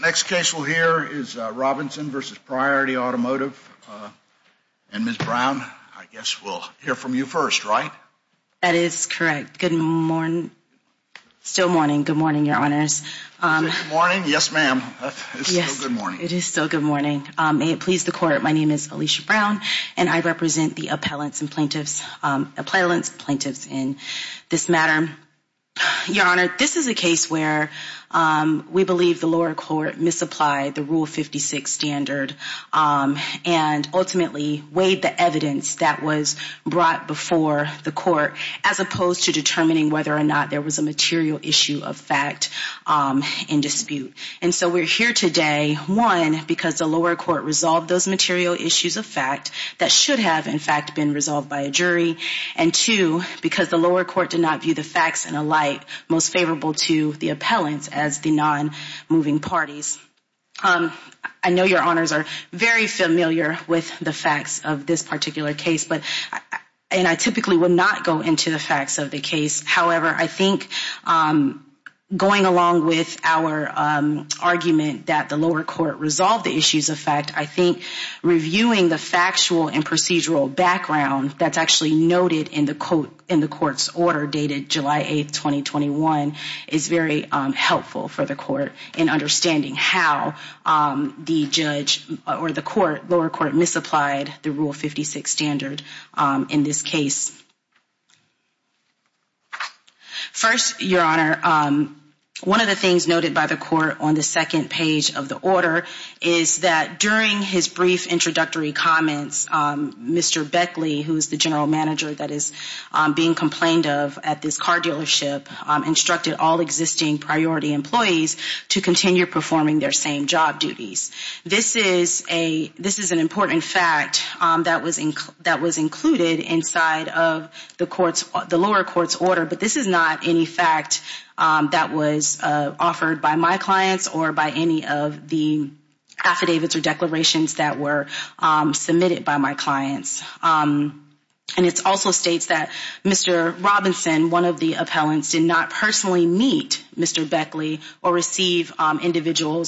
Next case we'll hear is Robinson v. Priority Automotive. And Ms. Brown, I guess we'll hear from you first, right? That is correct. Good morning. Still morning. Good morning, Your Honors. Is it morning? Yes, ma'am. It's still good morning. It is still good morning. May it please the Court, my name is Alicia Brown, and I represent the appellants and plaintiffs, appellants, plaintiffs in this matter. Your Honor, this is a case where we believe the lower court misapplied the Rule 56 standard and ultimately weighed the evidence that was brought before the court as opposed to determining whether or not there was a material issue of fact in dispute. And so we're here today, one, because the lower court resolved those material issues of fact that should have, in fact, been resolved by a jury, and two, because the lower court did not view the facts in a light most favorable to the appellants as the non-moving parties. I know Your Honors are very familiar with the facts of this particular case, and I typically would not go into the facts of the case. However, I think going along with our argument that the lower court resolved the issues of fact, I think reviewing the factual and procedural background that's actually noted in the court's order dated July 8, 2021, is very helpful for the court in understanding how the judge or the lower court misapplied the Rule 56 standard in this case. First, Your Honor, one of the things noted by the court on the second page of the order is that during his brief introductory comments, Mr. Beckley, who is the general manager that is being complained of at this car dealership, instructed all existing priority employees to continue performing their same job duties. This is an important fact that was included inside of the lower court's order, but this is not any fact that was offered by my clients or by any of the affidavits or declarations that were submitted by my clients. And it also states that Mr. Robinson, one of the appellants, did not personally meet Mr. Beckley or receive individual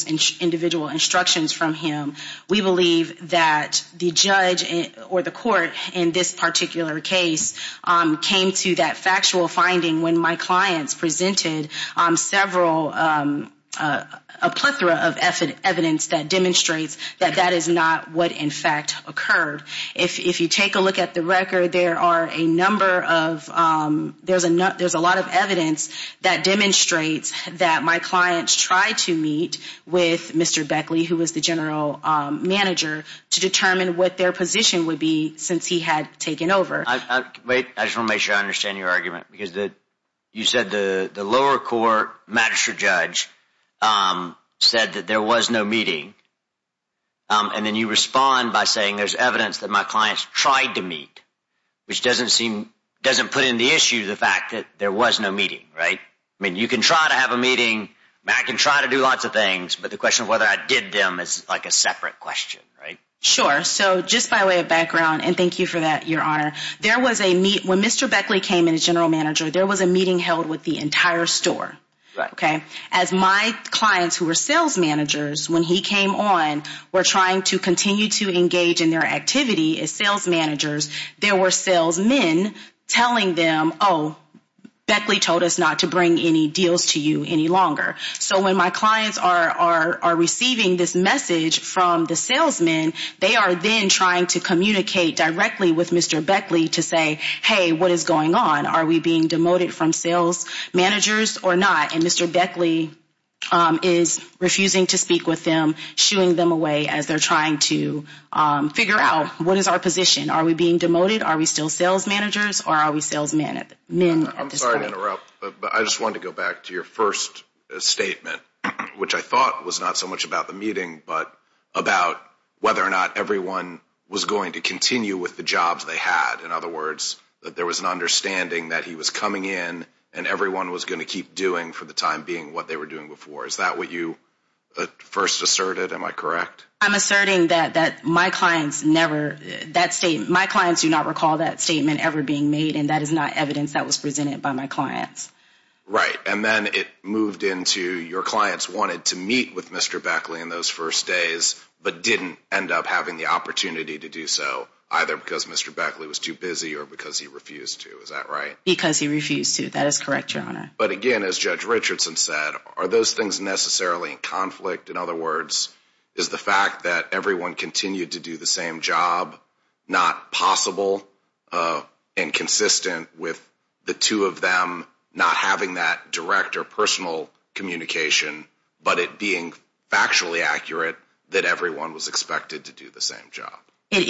instructions from him. We believe that the judge or the court in this particular case came to that factual finding when my clients presented several, a plethora of evidence that demonstrates that that is not what in fact occurred. If you take a look at the record, there are a number of, there's a lot of evidence that demonstrates that my clients tried to meet with Mr. Beckley, who was the general manager, to determine what their position would be since he had taken over. Wait, I just want to make sure I understand your argument. Because you said the lower court magistrate judge said that there was no meeting, and then you respond by saying there's evidence that my clients tried to meet, which doesn't put into issue the fact that there was no meeting, right? I mean, you can try to have a meeting. I can try to do lots of things. But the question of whether I did them is like a separate question, right? Sure. So just by way of background, and thank you for that, Your Honor, when Mr. Beckley came in as general manager, there was a meeting held with the entire store. As my clients, who were sales managers, when he came on, were trying to continue to engage in their activity as sales managers, there were salesmen telling them, oh, Beckley told us not to bring any deals to you any longer. So when my clients are receiving this message from the salesmen, they are then trying to communicate directly with Mr. Beckley to say, hey, what is going on? Are we being demoted from sales managers or not? And Mr. Beckley is refusing to speak with them, shooing them away as they're trying to figure out what is our position. Are we being demoted? Are we still sales managers or are we salesmen at this point? I'm sorry to interrupt, but I just wanted to go back to your first statement, which I thought was not so much about the meeting but about whether or not everyone was going to continue with the jobs they had. In other words, that there was an understanding that he was coming in and everyone was going to keep doing for the time being what they were doing before. Is that what you first asserted? Am I correct? I'm asserting that my clients do not recall that statement ever being made, and that is not evidence that was presented by my clients. Right. And then it moved into your clients wanted to meet with Mr. Beckley in those first days but didn't end up having the opportunity to do so, either because Mr. Beckley was too busy or because he refused to. Is that right? Because he refused to. That is correct, Your Honor. But again, as Judge Richardson said, are those things necessarily in conflict? In other words, is the fact that everyone continued to do the same job not possible and consistent with the two of them not having that direct or personal communication but it being factually accurate that everyone was expected to do the same job? It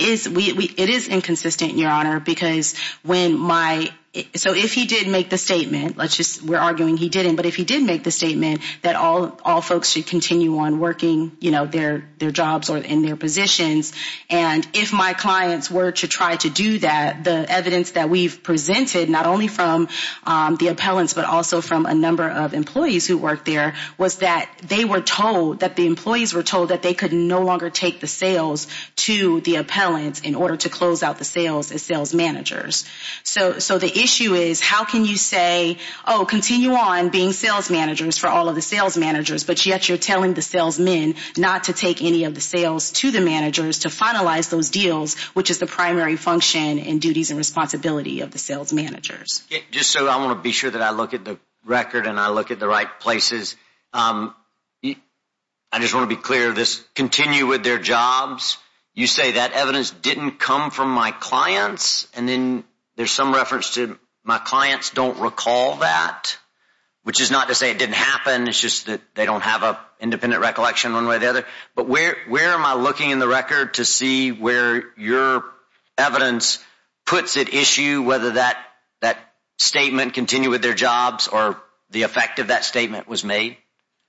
is inconsistent, Your Honor, because when my—so if he did make the statement, we're arguing he didn't, but if he did make the statement that all folks should continue on working their jobs or in their positions, and if my clients were to try to do that, the evidence that we've presented, not only from the appellants but also from a number of employees who work there, was that they were told, that the employees were told, that they could no longer take the sales to the appellants in order to close out the sales as sales managers. So the issue is how can you say, oh, continue on being sales managers for all of the sales managers, but yet you're telling the salesmen not to take any of the sales to the managers to finalize those deals, which is the primary function and duties and responsibility of the sales managers. Just so I want to be sure that I look at the record and I look at the right places, I just want to be clear of this, continue with their jobs, you say that evidence didn't come from my clients, and then there's some reference to my clients don't recall that, which is not to say it didn't happen, it's just that they don't have an independent recollection one way or the other, but where am I looking in the record to see where your evidence puts at issue whether that statement, continue with their jobs, or the effect of that statement was made?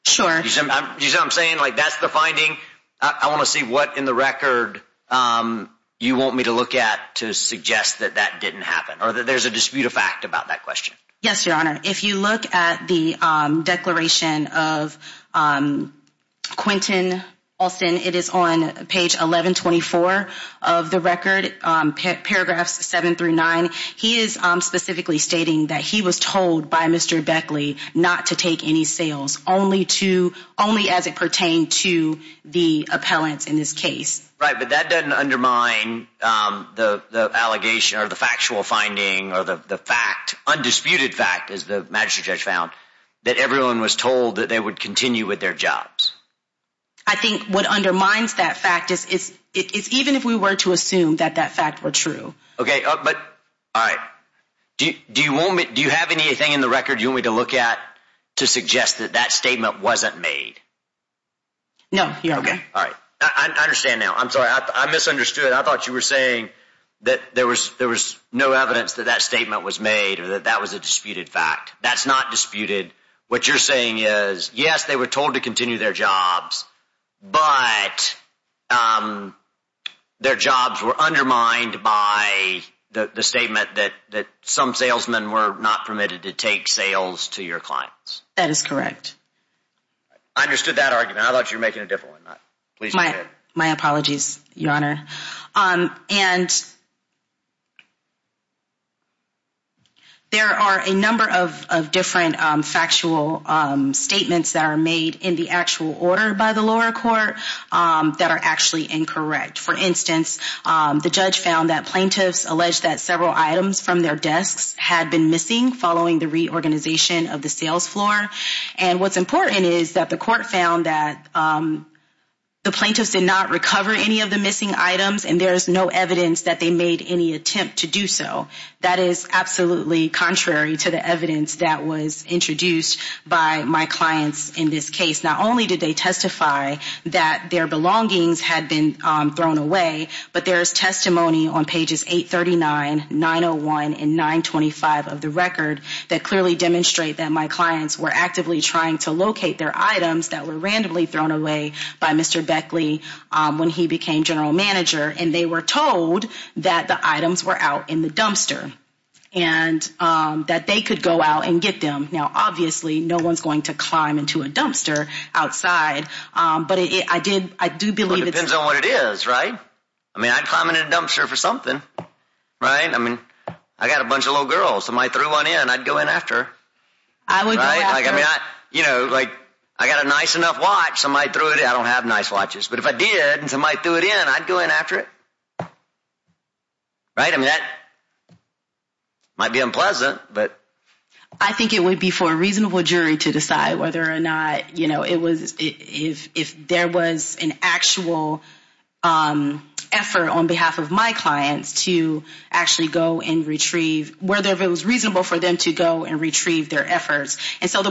Sure. You see what I'm saying? Like that's the finding. I want to see what in the record you want me to look at to suggest that that didn't happen, or that there's a dispute of fact about that question. Yes, Your Honor. If you look at the declaration of Quentin Alston, it is on page 1124 of the record, paragraphs 7 through 9. He is specifically stating that he was told by Mr. Beckley not to take any sales, only as it pertained to the appellants in this case. Right, but that doesn't undermine the allegation or the factual finding or the fact, undisputed fact, as the magistrate judge found, that everyone was told that they would continue with their jobs. I think what undermines that fact is even if we were to assume that that fact were true. Okay, but, all right, do you have anything in the record you want me to look at to suggest that that statement wasn't made? No, Your Honor. Okay, all right. I understand now. I'm sorry, I misunderstood. I thought you were saying that there was no evidence that that statement was made or that that was a disputed fact. That's not disputed. What you're saying is, yes, they were told to continue their jobs, but their jobs were undermined by the statement that some salesmen were not permitted to take sales to your clients. That is correct. I understood that argument. I thought you were making a different one. My apologies, Your Honor. And there are a number of different factual statements that are made in the actual order by the lower court that are actually incorrect. For instance, the judge found that plaintiffs alleged that several items from their desks had been missing following the reorganization of the sales floor. And what's important is that the court found that the plaintiffs did not recover any of the missing items, and there is no evidence that they made any attempt to do so. That is absolutely contrary to the evidence that was introduced by my clients in this case. Not only did they testify that their belongings had been thrown away, but there is testimony on pages 839, 901, and 925 of the record that clearly demonstrate that my clients were actively trying to locate their items that were randomly thrown away by Mr. Beckley when he became general manager, and they were told that the items were out in the dumpster, and that they could go out and get them. Now, obviously, no one's going to climb into a dumpster outside, but I do believe it's... Well, it depends on what it is, right? I mean, I'd climb into a dumpster for something, right? I mean, I've got a bunch of little girls. If somebody threw one in, I'd go in after. I would go after. You know, like, I've got a nice enough watch. Somebody threw it in. I don't have nice watches, but if I did and somebody threw it in, I'd go in after it. Right? I mean, that might be unpleasant, but... I think it would be for a reasonable jury to decide whether or not, you know, if there was an actual effort on behalf of my clients to actually go and retrieve, And so the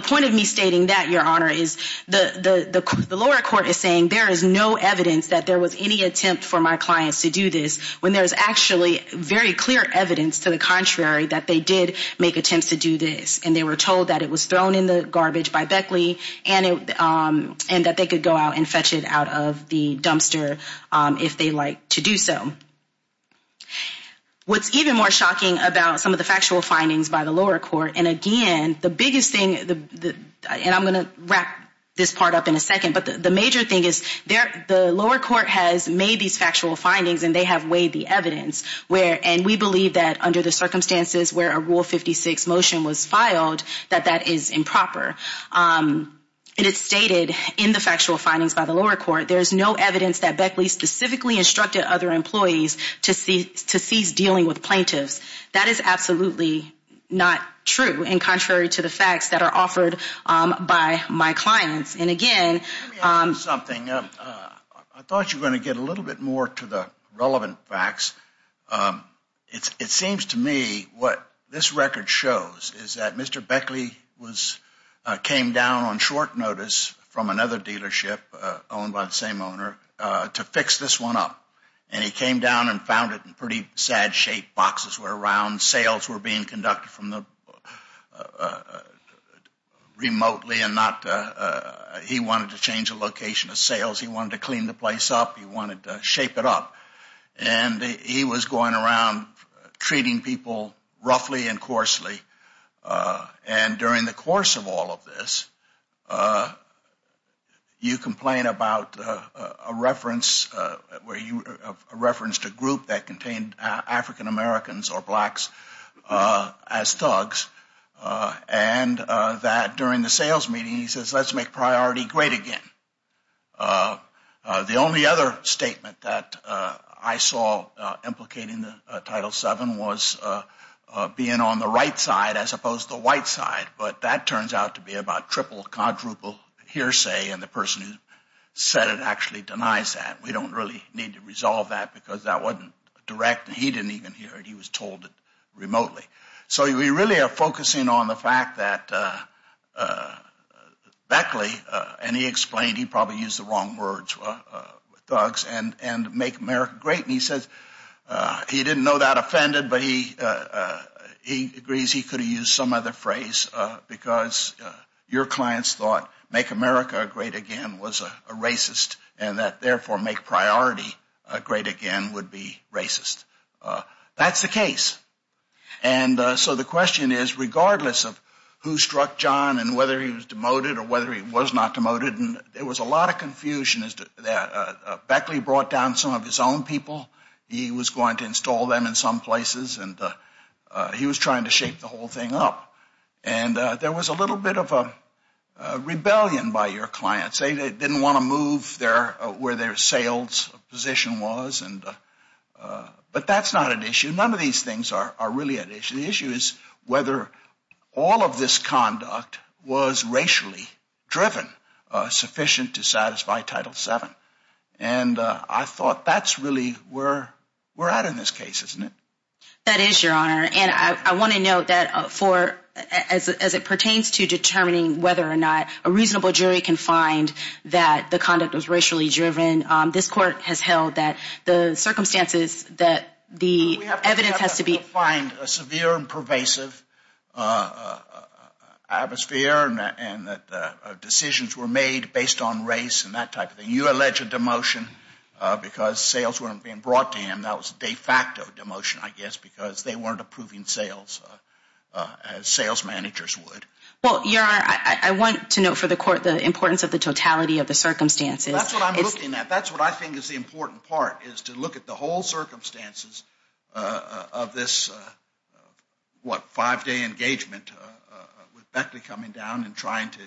point of me stating that, Your Honor, is the lower court is saying there is no evidence that there was any attempt for my clients to do this when there's actually very clear evidence to the contrary that they did make attempts to do this, and they were told that it was thrown in the garbage by Beckley and that they could go out and fetch it out of the dumpster if they liked to do so. What's even more shocking about some of the factual findings by the lower court, and again, the biggest thing, and I'm going to wrap this part up in a second, but the major thing is the lower court has made these factual findings, and they have weighed the evidence, and we believe that under the circumstances where a Rule 56 motion was filed, that that is improper. And it's stated in the factual findings by the lower court, there is no evidence that Beckley specifically instructed other employees to cease dealing with plaintiffs. That is absolutely not true, and contrary to the facts that are offered by my clients. And again, Let me ask you something. I thought you were going to get a little bit more to the relevant facts. It seems to me what this record shows is that Mr. Beckley came down on short notice from another dealership owned by the same owner to fix this one up, and he came down and found it in pretty sad shape. Boxes were around. Sales were being conducted remotely, and he wanted to change the location of sales. He wanted to clean the place up. He wanted to shape it up, and he was going around treating people roughly and coarsely, and during the course of all of this, you complain about a reference to a group that contained African Americans or blacks as thugs, and that during the sales meeting, he says, let's make priority great again. The only other statement that I saw implicating Title VII was being on the right side as opposed to the white side, but that turns out to be about triple, quadruple hearsay, and the person who said it actually denies that. We don't really need to resolve that because that wasn't direct, and he didn't even hear it. He was told it remotely. So we really are focusing on the fact that Beckley, and he explained he probably used the wrong words, thugs and make America great, and he says he didn't know that offended, but he agrees he could have used some other phrase because your clients thought make America great again was a racist, and that therefore make priority great again would be racist. That's the case, and so the question is regardless of who struck John and whether he was demoted or whether he was not demoted, there was a lot of confusion. Beckley brought down some of his own people. He was going to install them in some places, and he was trying to shape the whole thing up, and there was a little bit of a rebellion by your clients. They didn't want to move where their sales position was, but that's not an issue. None of these things are really an issue. The issue is whether all of this conduct was racially driven sufficient to satisfy Title VII, and I thought that's really where we're at in this case, isn't it? That is, Your Honor, and I want to note that as it pertains to determining whether or not a reasonable jury can find that the conduct was racially driven, this court has held that the circumstances that the evidence has to be— We have to find a severe and pervasive atmosphere and that decisions were made based on race and that type of thing. You allege a demotion because sales weren't being brought to him. That was a de facto demotion, I guess, because they weren't approving sales as sales managers would. Well, Your Honor, I want to note for the court the importance of the totality of the circumstances. That's what I'm looking at. That's what I think is the important part, is to look at the whole circumstances of this, what, five-day engagement with Beckley coming down and trying to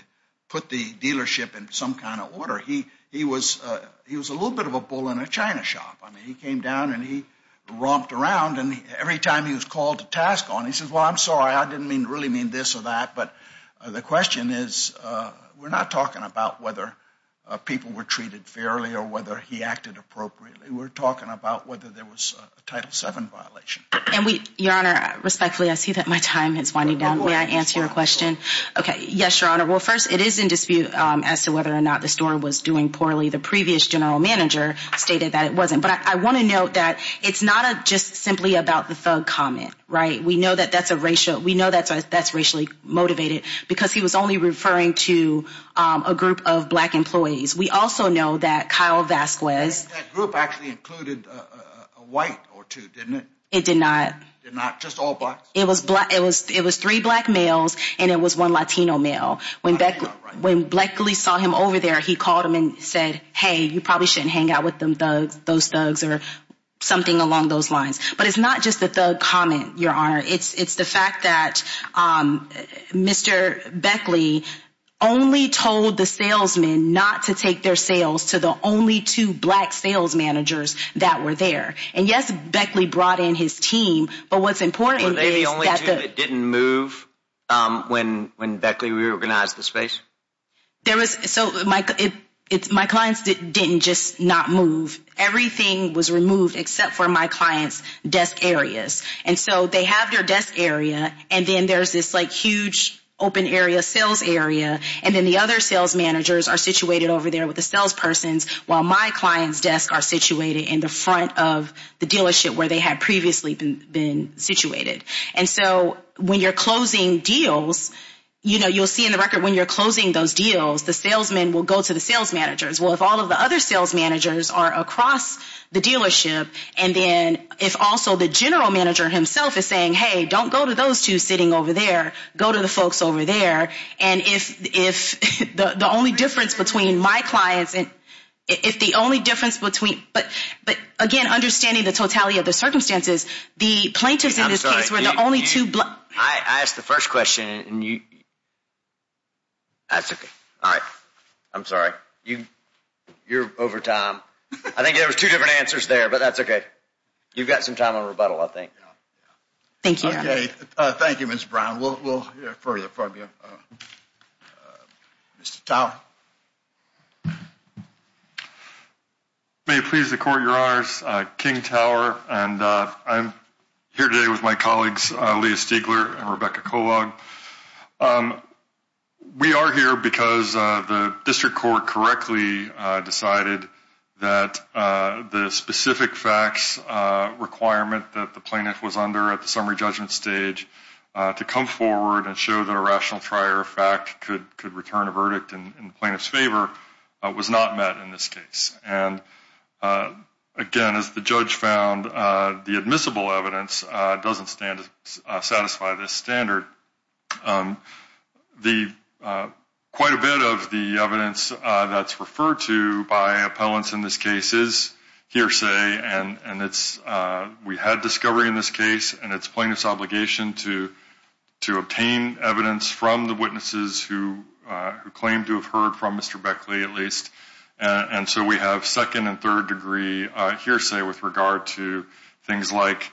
put the dealership in some kind of order. He was a little bit of a bull in a china shop. I mean, he came down and he romped around, and every time he was called to task on, he says, Well, I'm sorry, I didn't really mean this or that, but the question is we're not talking about whether people were treated fairly or whether he acted appropriately. We're talking about whether there was a Title VII violation. And we—Your Honor, respectfully, I see that my time is winding down. May I answer your question? Okay, yes, Your Honor. Well, first, it is in dispute as to whether or not the store was doing poorly. The previous general manager stated that it wasn't. But I want to note that it's not just simply about the thug comment, right? We know that that's a racial—we know that that's racially motivated because he was only referring to a group of black employees. We also know that Kyle Vasquez— That group actually included a white or two, didn't it? It did not. Just all blacks? It was three black males and it was one Latino male. When Beckley saw him over there, he called him and said, Hey, you probably shouldn't hang out with those thugs or something along those lines. But it's not just the thug comment, Your Honor. It's the fact that Mr. Beckley only told the salesman not to take their sales to the only two black sales managers that were there. And, yes, Beckley brought in his team, but what's important is— The only two that didn't move when Beckley reorganized the space? There was—so my clients didn't just not move. Everything was removed except for my clients' desk areas. And so they have their desk area and then there's this, like, huge open area sales area and then the other sales managers are situated over there with the sales persons while my clients' desks are situated in the front of the dealership where they had previously been situated. And so when you're closing deals, you'll see in the record when you're closing those deals, the salesman will go to the sales managers. Well, if all of the other sales managers are across the dealership and then if also the general manager himself is saying, Hey, don't go to those two sitting over there. Go to the folks over there. And if the only difference between my clients and— If the only difference between— But, again, understanding the totality of the circumstances, the plaintiffs in this case were the only two— I asked the first question and you— That's okay. All right. I'm sorry. You're over time. I think there were two different answers there, but that's okay. You've got some time on rebuttal, I think. Thank you. Okay. Thank you, Ms. Brown. We'll hear further from you. Mr. Tower. May it please the Court, Your Honors. King Tower. And I'm here today with my colleagues, Leah Stiegler and Rebecca Kolag. We are here because the district court correctly decided that the specific facts requirement that the plaintiff was under at the summary judgment stage to come forward and show that a rational trier of fact could return a verdict in this case. And the plaintiff's favor was not met in this case. And, again, as the judge found, the admissible evidence doesn't satisfy this standard. Quite a bit of the evidence that's referred to by appellants in this case is hearsay, and we had discovery in this case, and it's plaintiff's obligation to obtain evidence from the witnesses who claim to have heard from Mr. Beckley, at least. And so we have second and third degree hearsay with regard to things like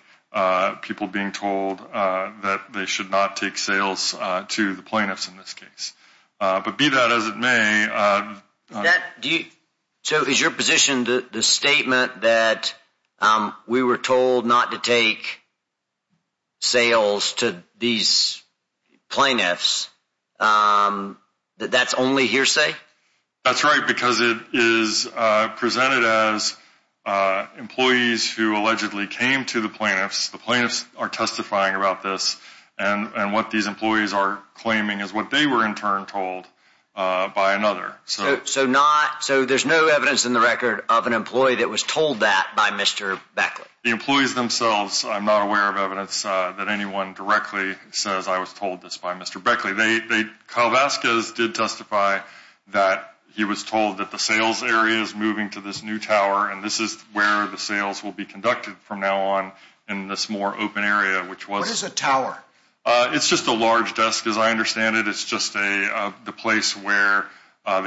people being told that they should not take sales to the plaintiffs in this case. But be that as it may. So is your position the statement that we were told not to take sales to these plaintiffs, that that's only hearsay? That's right, because it is presented as employees who allegedly came to the plaintiffs, the plaintiffs are testifying about this, and what these employees are claiming is what they were, in turn, told by another. So there's no evidence in the record of an employee that was told that by Mr. Beckley? The employees themselves, I'm not aware of evidence that anyone directly says, I was told this by Mr. Beckley. Kyle Vasquez did testify that he was told that the sales area is moving to this new tower, and this is where the sales will be conducted from now on in this more open area, which was What is a tower? It's just a large desk, as I understand it. It's just the place where some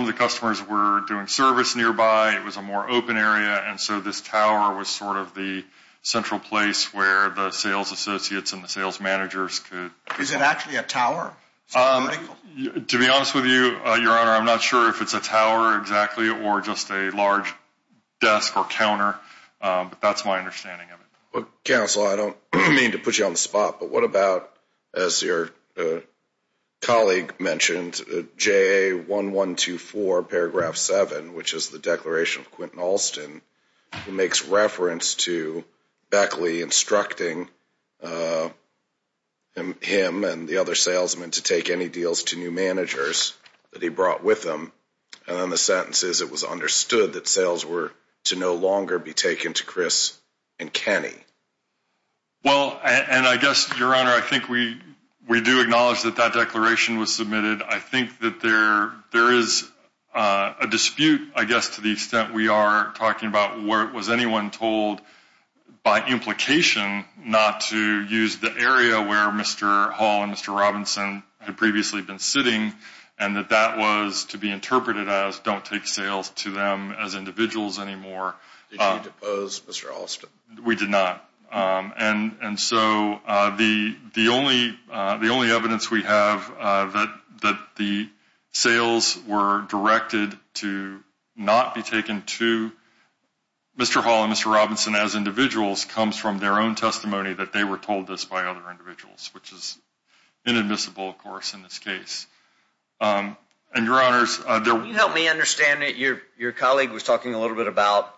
of the customers were doing service nearby. It was a more open area. And so this tower was sort of the central place where the sales associates and the sales managers could Is it actually a tower? To be honest with you, Your Honor, I'm not sure if it's a tower exactly or just a large desk or counter. But that's my understanding of it. Counsel, I don't mean to put you on the spot, but what about, as your colleague mentioned, JA1124 paragraph 7, which is the declaration of Quentin Alston, who makes reference to Beckley instructing him and the other salesmen to take any deals to new managers that he brought with them. And then the sentence is it was understood that sales were to no longer be taken to Chris and Kenny. Well, and I guess, Your Honor, I think we do acknowledge that that declaration was submitted. I think that there is a dispute, I guess, to the extent we are talking about where it was anyone told by implication not to use the area where Mr. Hall and Mr. Robinson had previously been sitting and that that was to be interpreted as don't take sales to them as individuals anymore. Did you depose Mr. Alston? We did not. And so the only evidence we have that the sales were directed to not be taken to Mr. Hall and Mr. Robinson as individuals comes from their own testimony that they were told this by other individuals, which is inadmissible, of course, in this case. And, Your Honors, there were... Can you help me understand that your colleague was talking a little bit about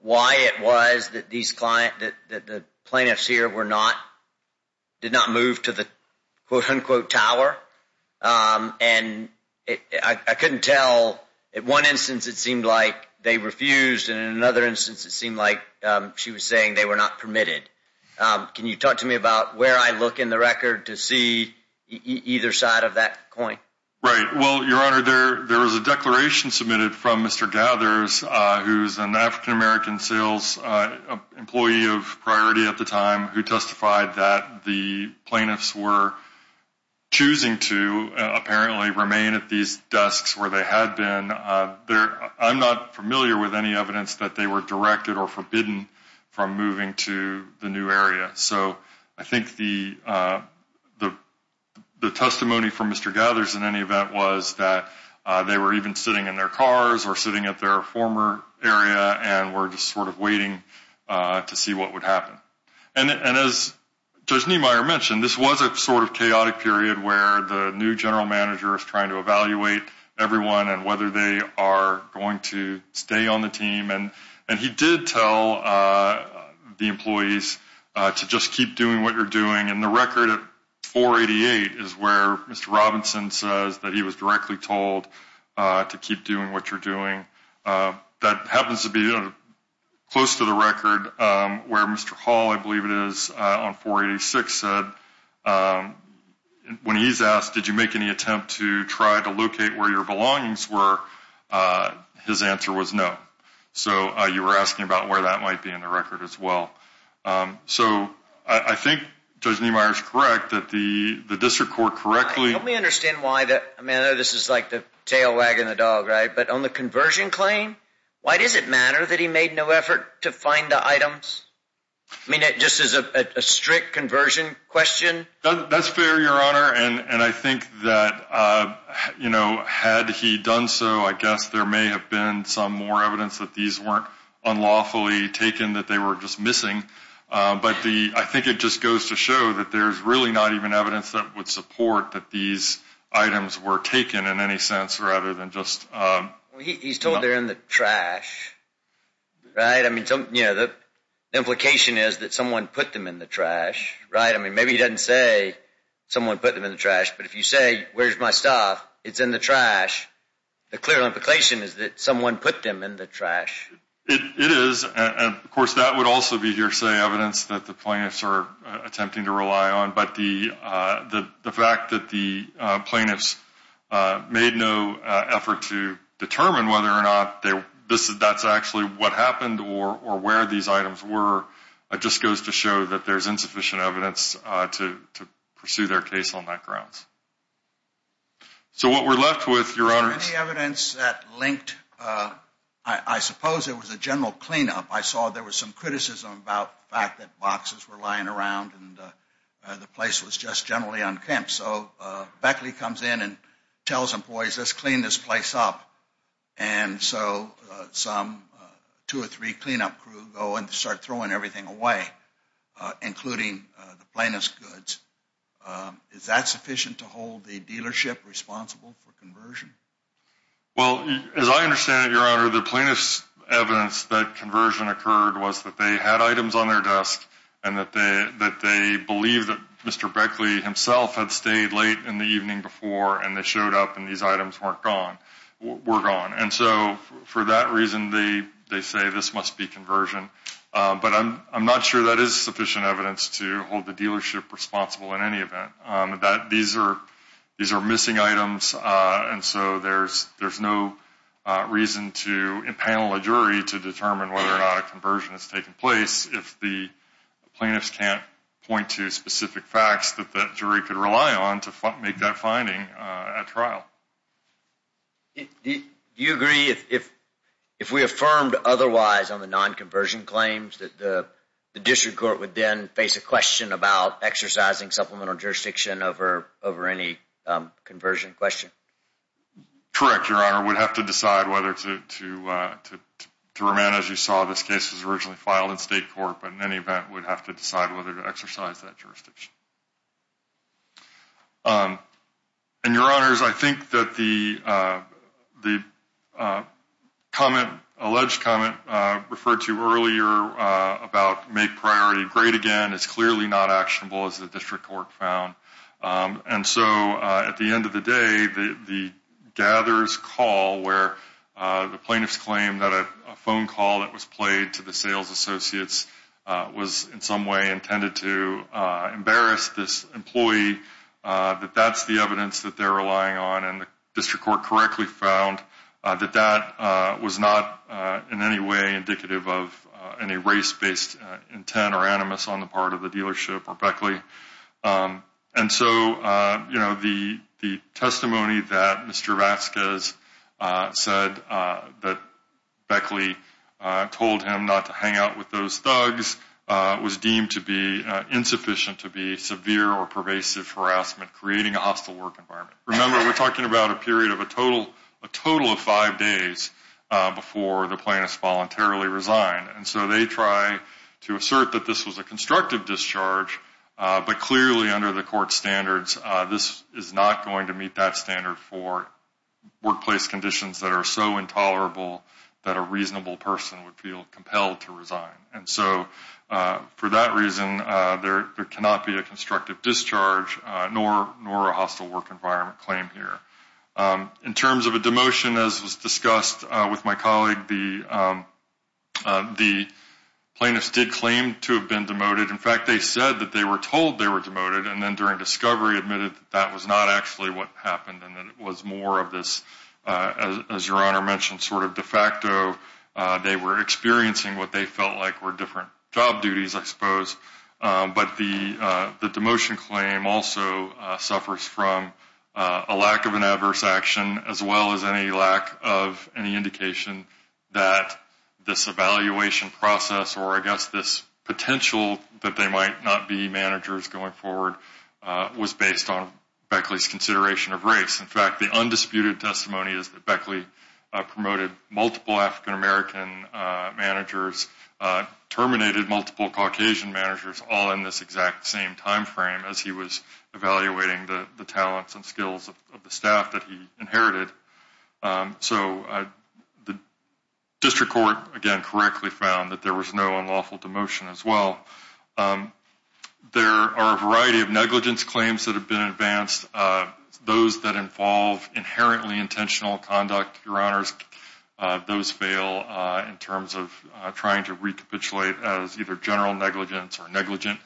why it was that these clients, that the plaintiffs here were not, did not move to the quote-unquote tower? And I couldn't tell, in one instance it seemed like they refused and in another instance it seemed like she was saying they were not permitted. Can you talk to me about where I look in the record to see either side of that coin? Right. Well, Your Honor, there was a declaration submitted from Mr. Gathers, who is an African-American sales employee of priority at the time, who testified that the plaintiffs were choosing to apparently remain at these desks where they had been. I'm not familiar with any evidence that they were directed or forbidden from moving to the new area. So I think the testimony from Mr. Gathers in any event was that they were even sitting in their cars or sitting at their former area and were just sort of waiting to see what would happen. And as Judge Niemeyer mentioned, this was a sort of chaotic period where the new general manager was trying to evaluate everyone and whether they are going to stay on the team. And he did tell the employees to just keep doing what you're doing. And the record at 488 is where Mr. Robinson says that he was directly told to keep doing what you're doing. That happens to be close to the record where Mr. Hall, I believe it is, on 486 said, when he's asked, did you make any attempt to try to locate where your belongings were? His answer was no. So you were asking about where that might be in the record as well. So I think Judge Niemeyer is correct that the district court correctly. Let me understand why this is like the tail wagging the dog, right? But on the conversion claim, why does it matter that he made no effort to find the items? I mean, just as a strict conversion question. That's fair, Your Honor. And I think that, you know, had he done so, I guess there may have been some more evidence that these weren't unlawfully taken, that they were just missing. But I think it just goes to show that there's really not even evidence that would support that these items were taken in any sense, rather than just. He's told they're in the trash. Right. I mean, you know, the implication is that someone put them in the trash, right? I mean, maybe he doesn't say someone put them in the trash. But if you say, where's my stuff? It's in the trash. The clear implication is that someone put them in the trash. It is. Of course, that would also be hearsay evidence that the plaintiffs are attempting to rely on. But the fact that the plaintiffs made no effort to determine whether or not that's actually what happened or where these items were, it just goes to show that there's insufficient evidence to pursue their case on that grounds. So what we're left with, Your Honor. Is there any evidence that linked? I suppose it was a general cleanup. I saw there was some criticism about the fact that boxes were lying around and the place was just generally unkempt. So Beckley comes in and tells employees, let's clean this place up. And so some two or three cleanup crew go and start throwing everything away, including the plaintiff's goods. Is that sufficient to hold the dealership responsible for conversion? Well, as I understand it, Your Honor, the plaintiff's evidence that conversion occurred was that they had items on their desk and that they believe that Mr. Beckley himself had stayed late in the evening before and they showed up and these items were gone. And so for that reason, they say this must be conversion. But I'm not sure that is sufficient evidence to hold the dealership responsible in any event. These are missing items. And so there's no reason to impanel a jury to determine whether or not a conversion has taken place if the plaintiffs can't point to specific facts that the jury could rely on to make that finding at trial. Do you agree if we affirmed otherwise on the non-conversion claims, that the district court would then face a question about exercising supplemental jurisdiction over any conversion question? Correct, Your Honor. We'd have to decide whether to remain as you saw this case was originally filed in state court. But in any event, we'd have to decide whether to exercise that jurisdiction. And Your Honor, I think that the comment, alleged comment referred to earlier about make priority great again is clearly not actionable as the district court found. And so at the end of the day, the gatherers call where the plaintiff's claim that a phone call that was played to the sales associates was in some way intended to embarrass the district court. And so the district court found that that was not in any way indicative of any race-based intent or animus on the part of the dealership or Beckley. And so, you know, the testimony that Mr. Vasquez said that Beckley told him not to hang out with those thugs was deemed to be insufficient to be severe or pervasive harassment, creating a hostile work environment. Remember, we're talking about a period of a total of five days before the plaintiffs voluntarily resign. And so they try to assert that this was a constructive discharge. But clearly, under the court standards, this is not going to meet that standard for workplace conditions that are so intolerable that a reasonable person would feel compelled to resign. And so for that reason, there cannot be a constructive discharge nor a hostile work environment claim here. In terms of a demotion, as was discussed with my colleague, the plaintiffs did claim to have been demoted. In fact, they said that they were told they were demoted and then during discovery admitted that that was not actually what happened and that it was more of this, as Your Honor mentioned, sort of de facto. They were experiencing what they felt like were different job duties, I suppose. But the demotion claim also suffers from a lack of an adverse action as well as any lack of any indication that this evaluation process or, I guess, this potential that they might not be managers going forward was based on Beckley's consideration of race. In fact, the undisputed testimony is that Beckley promoted multiple African-American managers, terminated multiple Caucasian managers, all in this exact same time frame as he was evaluating the talents and skills of the staff that he inherited. So the district court, again, correctly found that there was no unlawful demotion as well. There are a variety of negligence claims that have been advanced. Those that involve inherently intentional conduct, Your Honors, those fail in terms of trying to recapitulate as either general negligence or negligent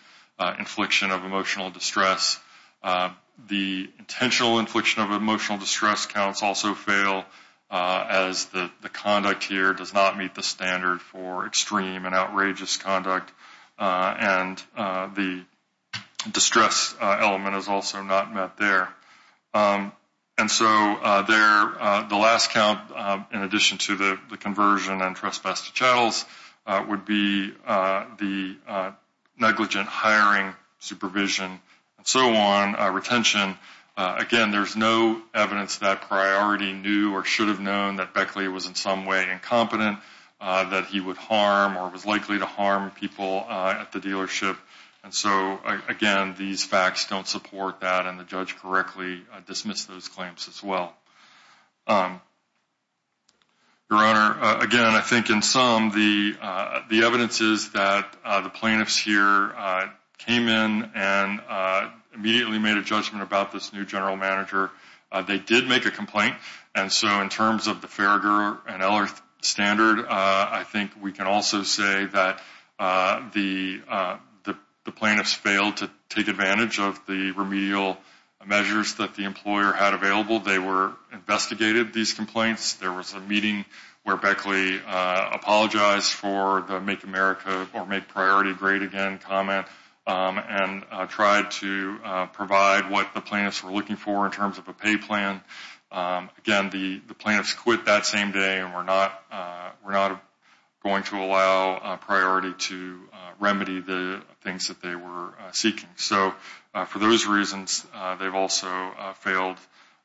infliction of emotional distress. The intentional infliction of emotional distress counts also fail as the conduct here does not meet the standard for extreme and outrageous conduct, and the distress element is also not met there. And so the last count, in addition to the conversion and trespass to chattels, would be the negligent hiring, supervision, and so on, retention. Again, there's no evidence that Priority knew or should have known that Beckley was in some way incompetent, that he would harm or was likely to harm people at the dealership. And so, again, these facts don't support that, and the judge correctly dismissed those claims as well. Your Honor, again, I think in some, the evidence is that the plaintiffs here came in and immediately made a judgment about this new general manager. They did make a complaint, and so in terms of the Farragher and Eller standard, I think we can also say that the plaintiffs failed to take advantage of the remedial measures that the employer had available. They were, investigated these complaints. There was a meeting where Beckley apologized for the Make America or Make Priority Great Again comment and tried to provide what the plaintiffs were looking for in terms of a pay plan. Again, the plaintiffs quit that same day and were not going to allow Priority to remedy the things that they were seeking. So for those reasons, they've also failed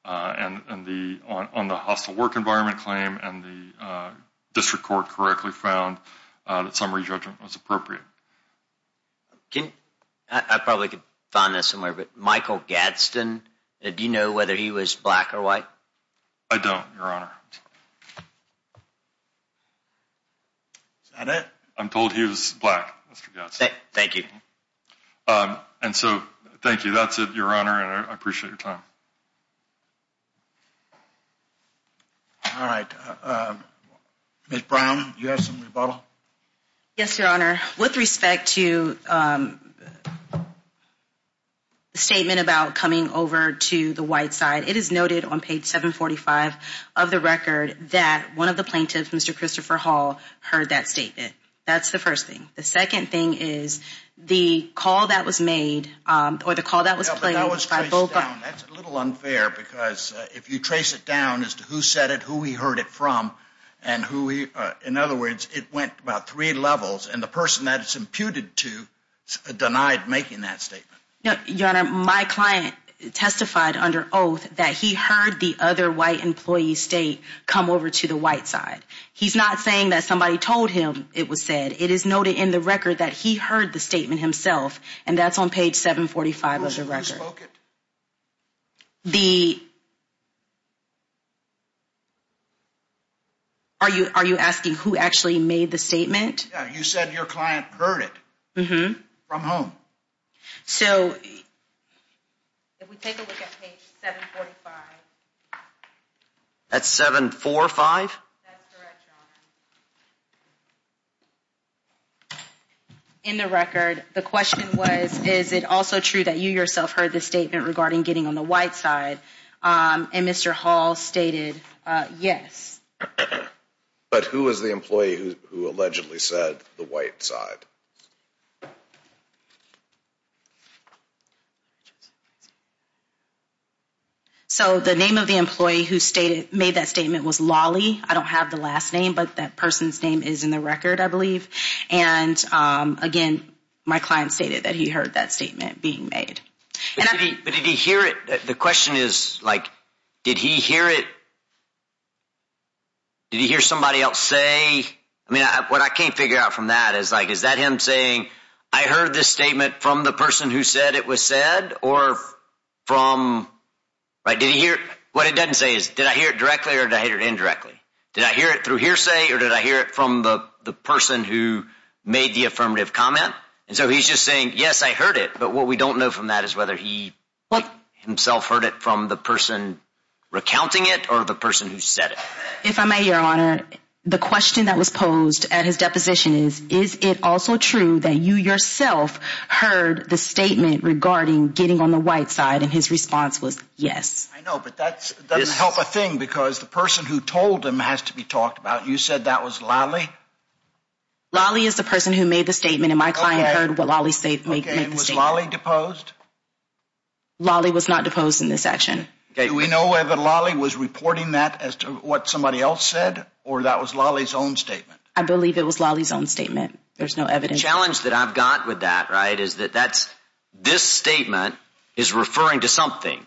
on the hostile work environment claim, and the district court correctly found that summary judgment was appropriate. I probably could find this somewhere, but Michael Gadsden, do you know whether he was black or white? I don't, Your Honor. Is that it? I'm told he was black, Mr. Gadsden. Thank you. And so thank you. That's it, Your Honor, and I appreciate your time. All right. Ms. Brown, you have some rebuttal? Yes, Your Honor. With respect to the statement about coming over to the white side, it is noted on page 745 of the record that one of the plaintiffs, Mr. Christopher Hall, heard that statement. That's the first thing. The second thing is the call that was made or the call that was played by both – That's a little unfair because if you trace it down as to who said it, who he heard it from, and who he – in other words, it went about three levels, and the person that it's imputed to denied making that statement. Your Honor, my client testified under oath that he heard the other white employee state come over to the white side. He's not saying that somebody told him it was said. It is noted in the record that he heard the statement himself, and that's on page 745 of the record. Who spoke it? The – are you asking who actually made the statement? Yeah, you said your client heard it. Mm-hmm. From whom? So if we take a look at page 745. That's 745? That's correct, Your Honor. In the record, the question was, is it also true that you yourself heard the statement regarding getting on the white side? And Mr. Hall stated yes. But who was the employee who allegedly said the white side? So the name of the employee who made that statement was Lawley. I don't have the last name, but that person's name is in the record, I believe. And, again, my client stated that he heard that statement being made. But did he hear it? The question is, like, did he hear it? Did he hear somebody else say? I mean, what I can't figure out from that is, like, is that him saying, I heard this statement from the person who said it was said or from – right? Did he hear – what it doesn't say is, did I hear it directly or did I hear it indirectly? Did I hear it through hearsay or did I hear it from the person who made the affirmative comment? And so he's just saying, yes, I heard it. But what we don't know from that is whether he himself heard it from the person recounting it or the person who said it. If I may, Your Honor, the question that was posed at his deposition is, is it also true that you yourself heard the statement regarding getting on the white side? And his response was yes. I know, but that doesn't help a thing because the person who told him has to be talked about. You said that was Lawley? Lawley is the person who made the statement, and my client heard what Lawley made the statement. Okay, and was Lawley deposed? Lawley was not deposed in this action. Do we know whether Lawley was reporting that as to what somebody else said or that was Lawley's own statement? I believe it was Lawley's own statement. There's no evidence. The challenge that I've got with that, right, is that that's – this statement is referring to something.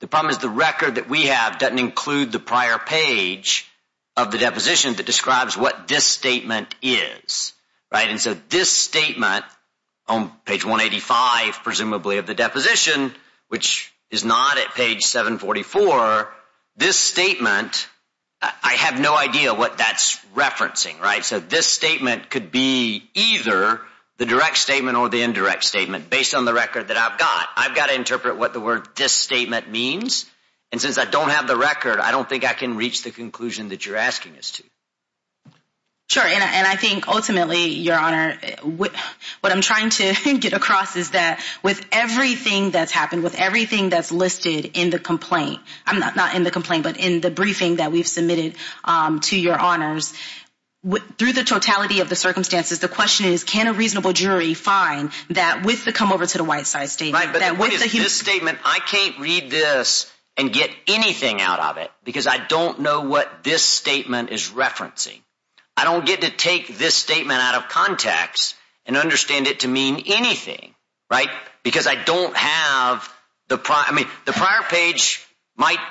The problem is the record that we have doesn't include the prior page of the deposition that describes what this statement is. And so this statement on page 185, presumably, of the deposition, which is not at page 744, this statement, I have no idea what that's referencing. So this statement could be either the direct statement or the indirect statement based on the record that I've got. I've got to interpret what the word this statement means, and since I don't have the record, I don't think I can reach the conclusion that you're asking us to. Sure, and I think ultimately, Your Honor, what I'm trying to get across is that with everything that's happened, with everything that's listed in the complaint – not in the complaint, but in the briefing that we've submitted to Your Honors, through the totality of the circumstances, the question is can a reasonable jury find that with the come-over-to-the-white-side statement? But what is this statement – I can't read this and get anything out of it because I don't know what this statement is referencing. I don't get to take this statement out of context and understand it to mean anything, right? Because I don't have the – I mean, the prior page might –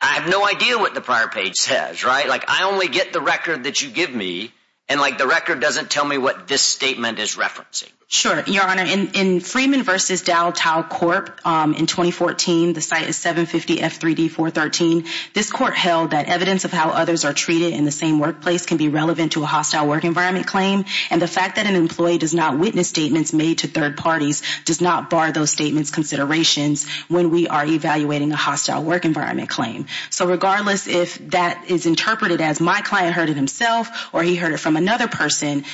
I have no idea what the prior page says, right? Like, I only get the record that you give me, and, like, the record doesn't tell me what this statement is referencing. Sure, Your Honor, in Freeman v. Dow Tau Corp., in 2014, the site is 750 F3D 413. This court held that evidence of how others are treated in the same workplace can be relevant to a hostile work environment claim, and the fact that an employee does not witness statements made to third parties does not bar those statements' considerations when we are evaluating a hostile work environment claim. So regardless if that is interpreted as my client heard it himself or he heard it from another person,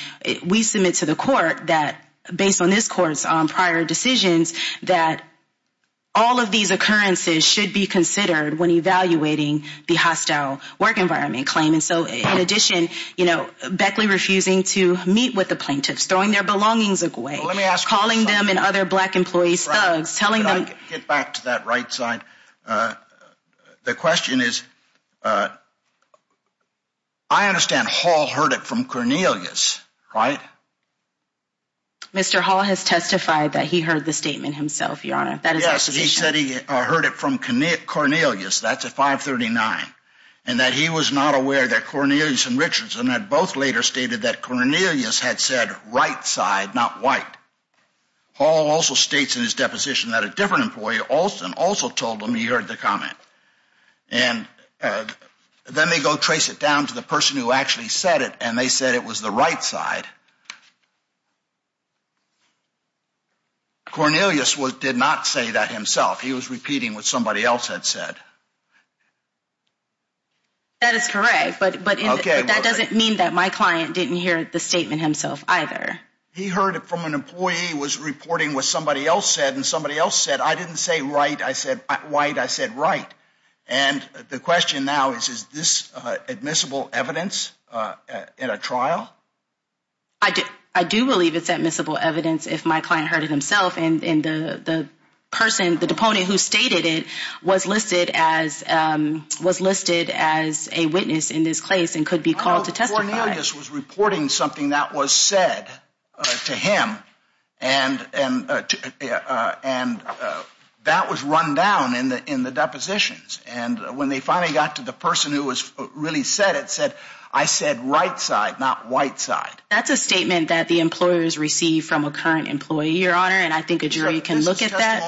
we submit to the court that, based on this court's prior decisions, that all of these occurrences should be considered when evaluating the hostile work environment claim. And so, in addition, you know, Beckley refusing to meet with the plaintiffs, throwing their belongings away, calling them and other black employees thugs, telling them – The question is, I understand Hall heard it from Cornelius, right? Mr. Hall has testified that he heard the statement himself, Your Honor. Yes, he said he heard it from Cornelius, that's at 539, and that he was not aware that Cornelius and Richardson had both later stated that Cornelius had said right side, not white. Hall also states in his deposition that a different employee also told him he heard the comment. And then they go trace it down to the person who actually said it, and they said it was the right side. Cornelius did not say that himself. He was repeating what somebody else had said. That is correct, but that doesn't mean that my client didn't hear the statement himself either. He heard it from an employee who was reporting what somebody else said, and somebody else said, I didn't say right, I said white, I said right. And the question now is, is this admissible evidence in a trial? I do believe it's admissible evidence if my client heard it himself, and the person, the deponent who stated it was listed as a witness in this case and could be called to testify. Cornelius was reporting something that was said to him, and that was run down in the depositions. And when they finally got to the person who really said it, said, I said right side, not white side. That's a statement that the employers receive from a current employee, Your Honor, and I think a jury can look at that.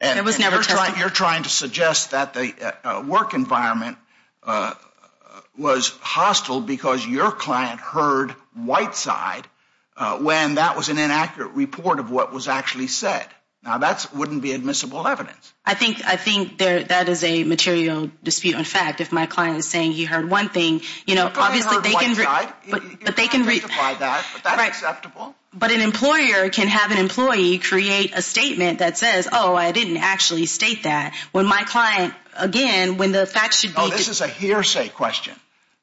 And you're trying to suggest that the work environment was hostile because your client heard white side when that was an inaccurate report of what was actually said. Now, that wouldn't be admissible evidence. I think that is a material dispute. In fact, if my client is saying he heard one thing, you know, obviously they can. You can testify that, but that's acceptable. But an employer can have an employee create a statement that says, oh, I didn't actually state that when my client, again, when the facts should be. Oh, this is a hearsay question.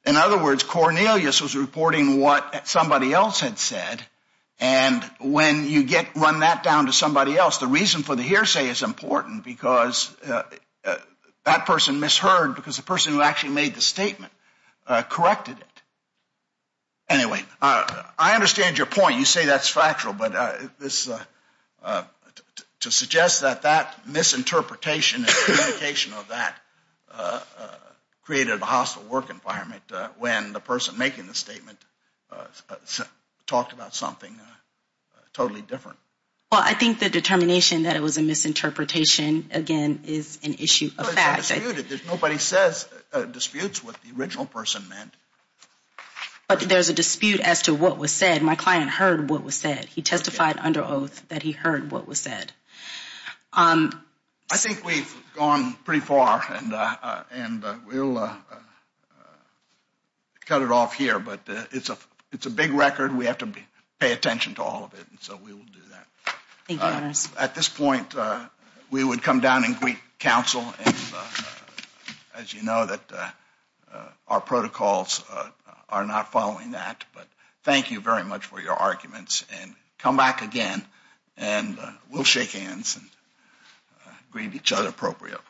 In other words, Cornelius was reporting what somebody else had said. And when you get run that down to somebody else, the reason for the hearsay is important because that person misheard because the person who actually made the statement corrected it. Anyway, I understand your point. You say that's factual, but to suggest that that misinterpretation of that created a hostile work environment when the person making the statement talked about something totally different. Well, I think the determination that it was a misinterpretation, again, is an issue of fact. Nobody says disputes what the original person meant. But there's a dispute as to what was said. My client heard what was said. He testified under oath that he heard what was said. I think we've gone pretty far, and we'll cut it off here. But it's a big record. We have to pay attention to all of it, and so we will do that. At this point, we would come down and greet counsel. As you know, our protocols are not following that. But thank you very much for your arguments, and come back again, and we'll shake hands and greet each other appropriately.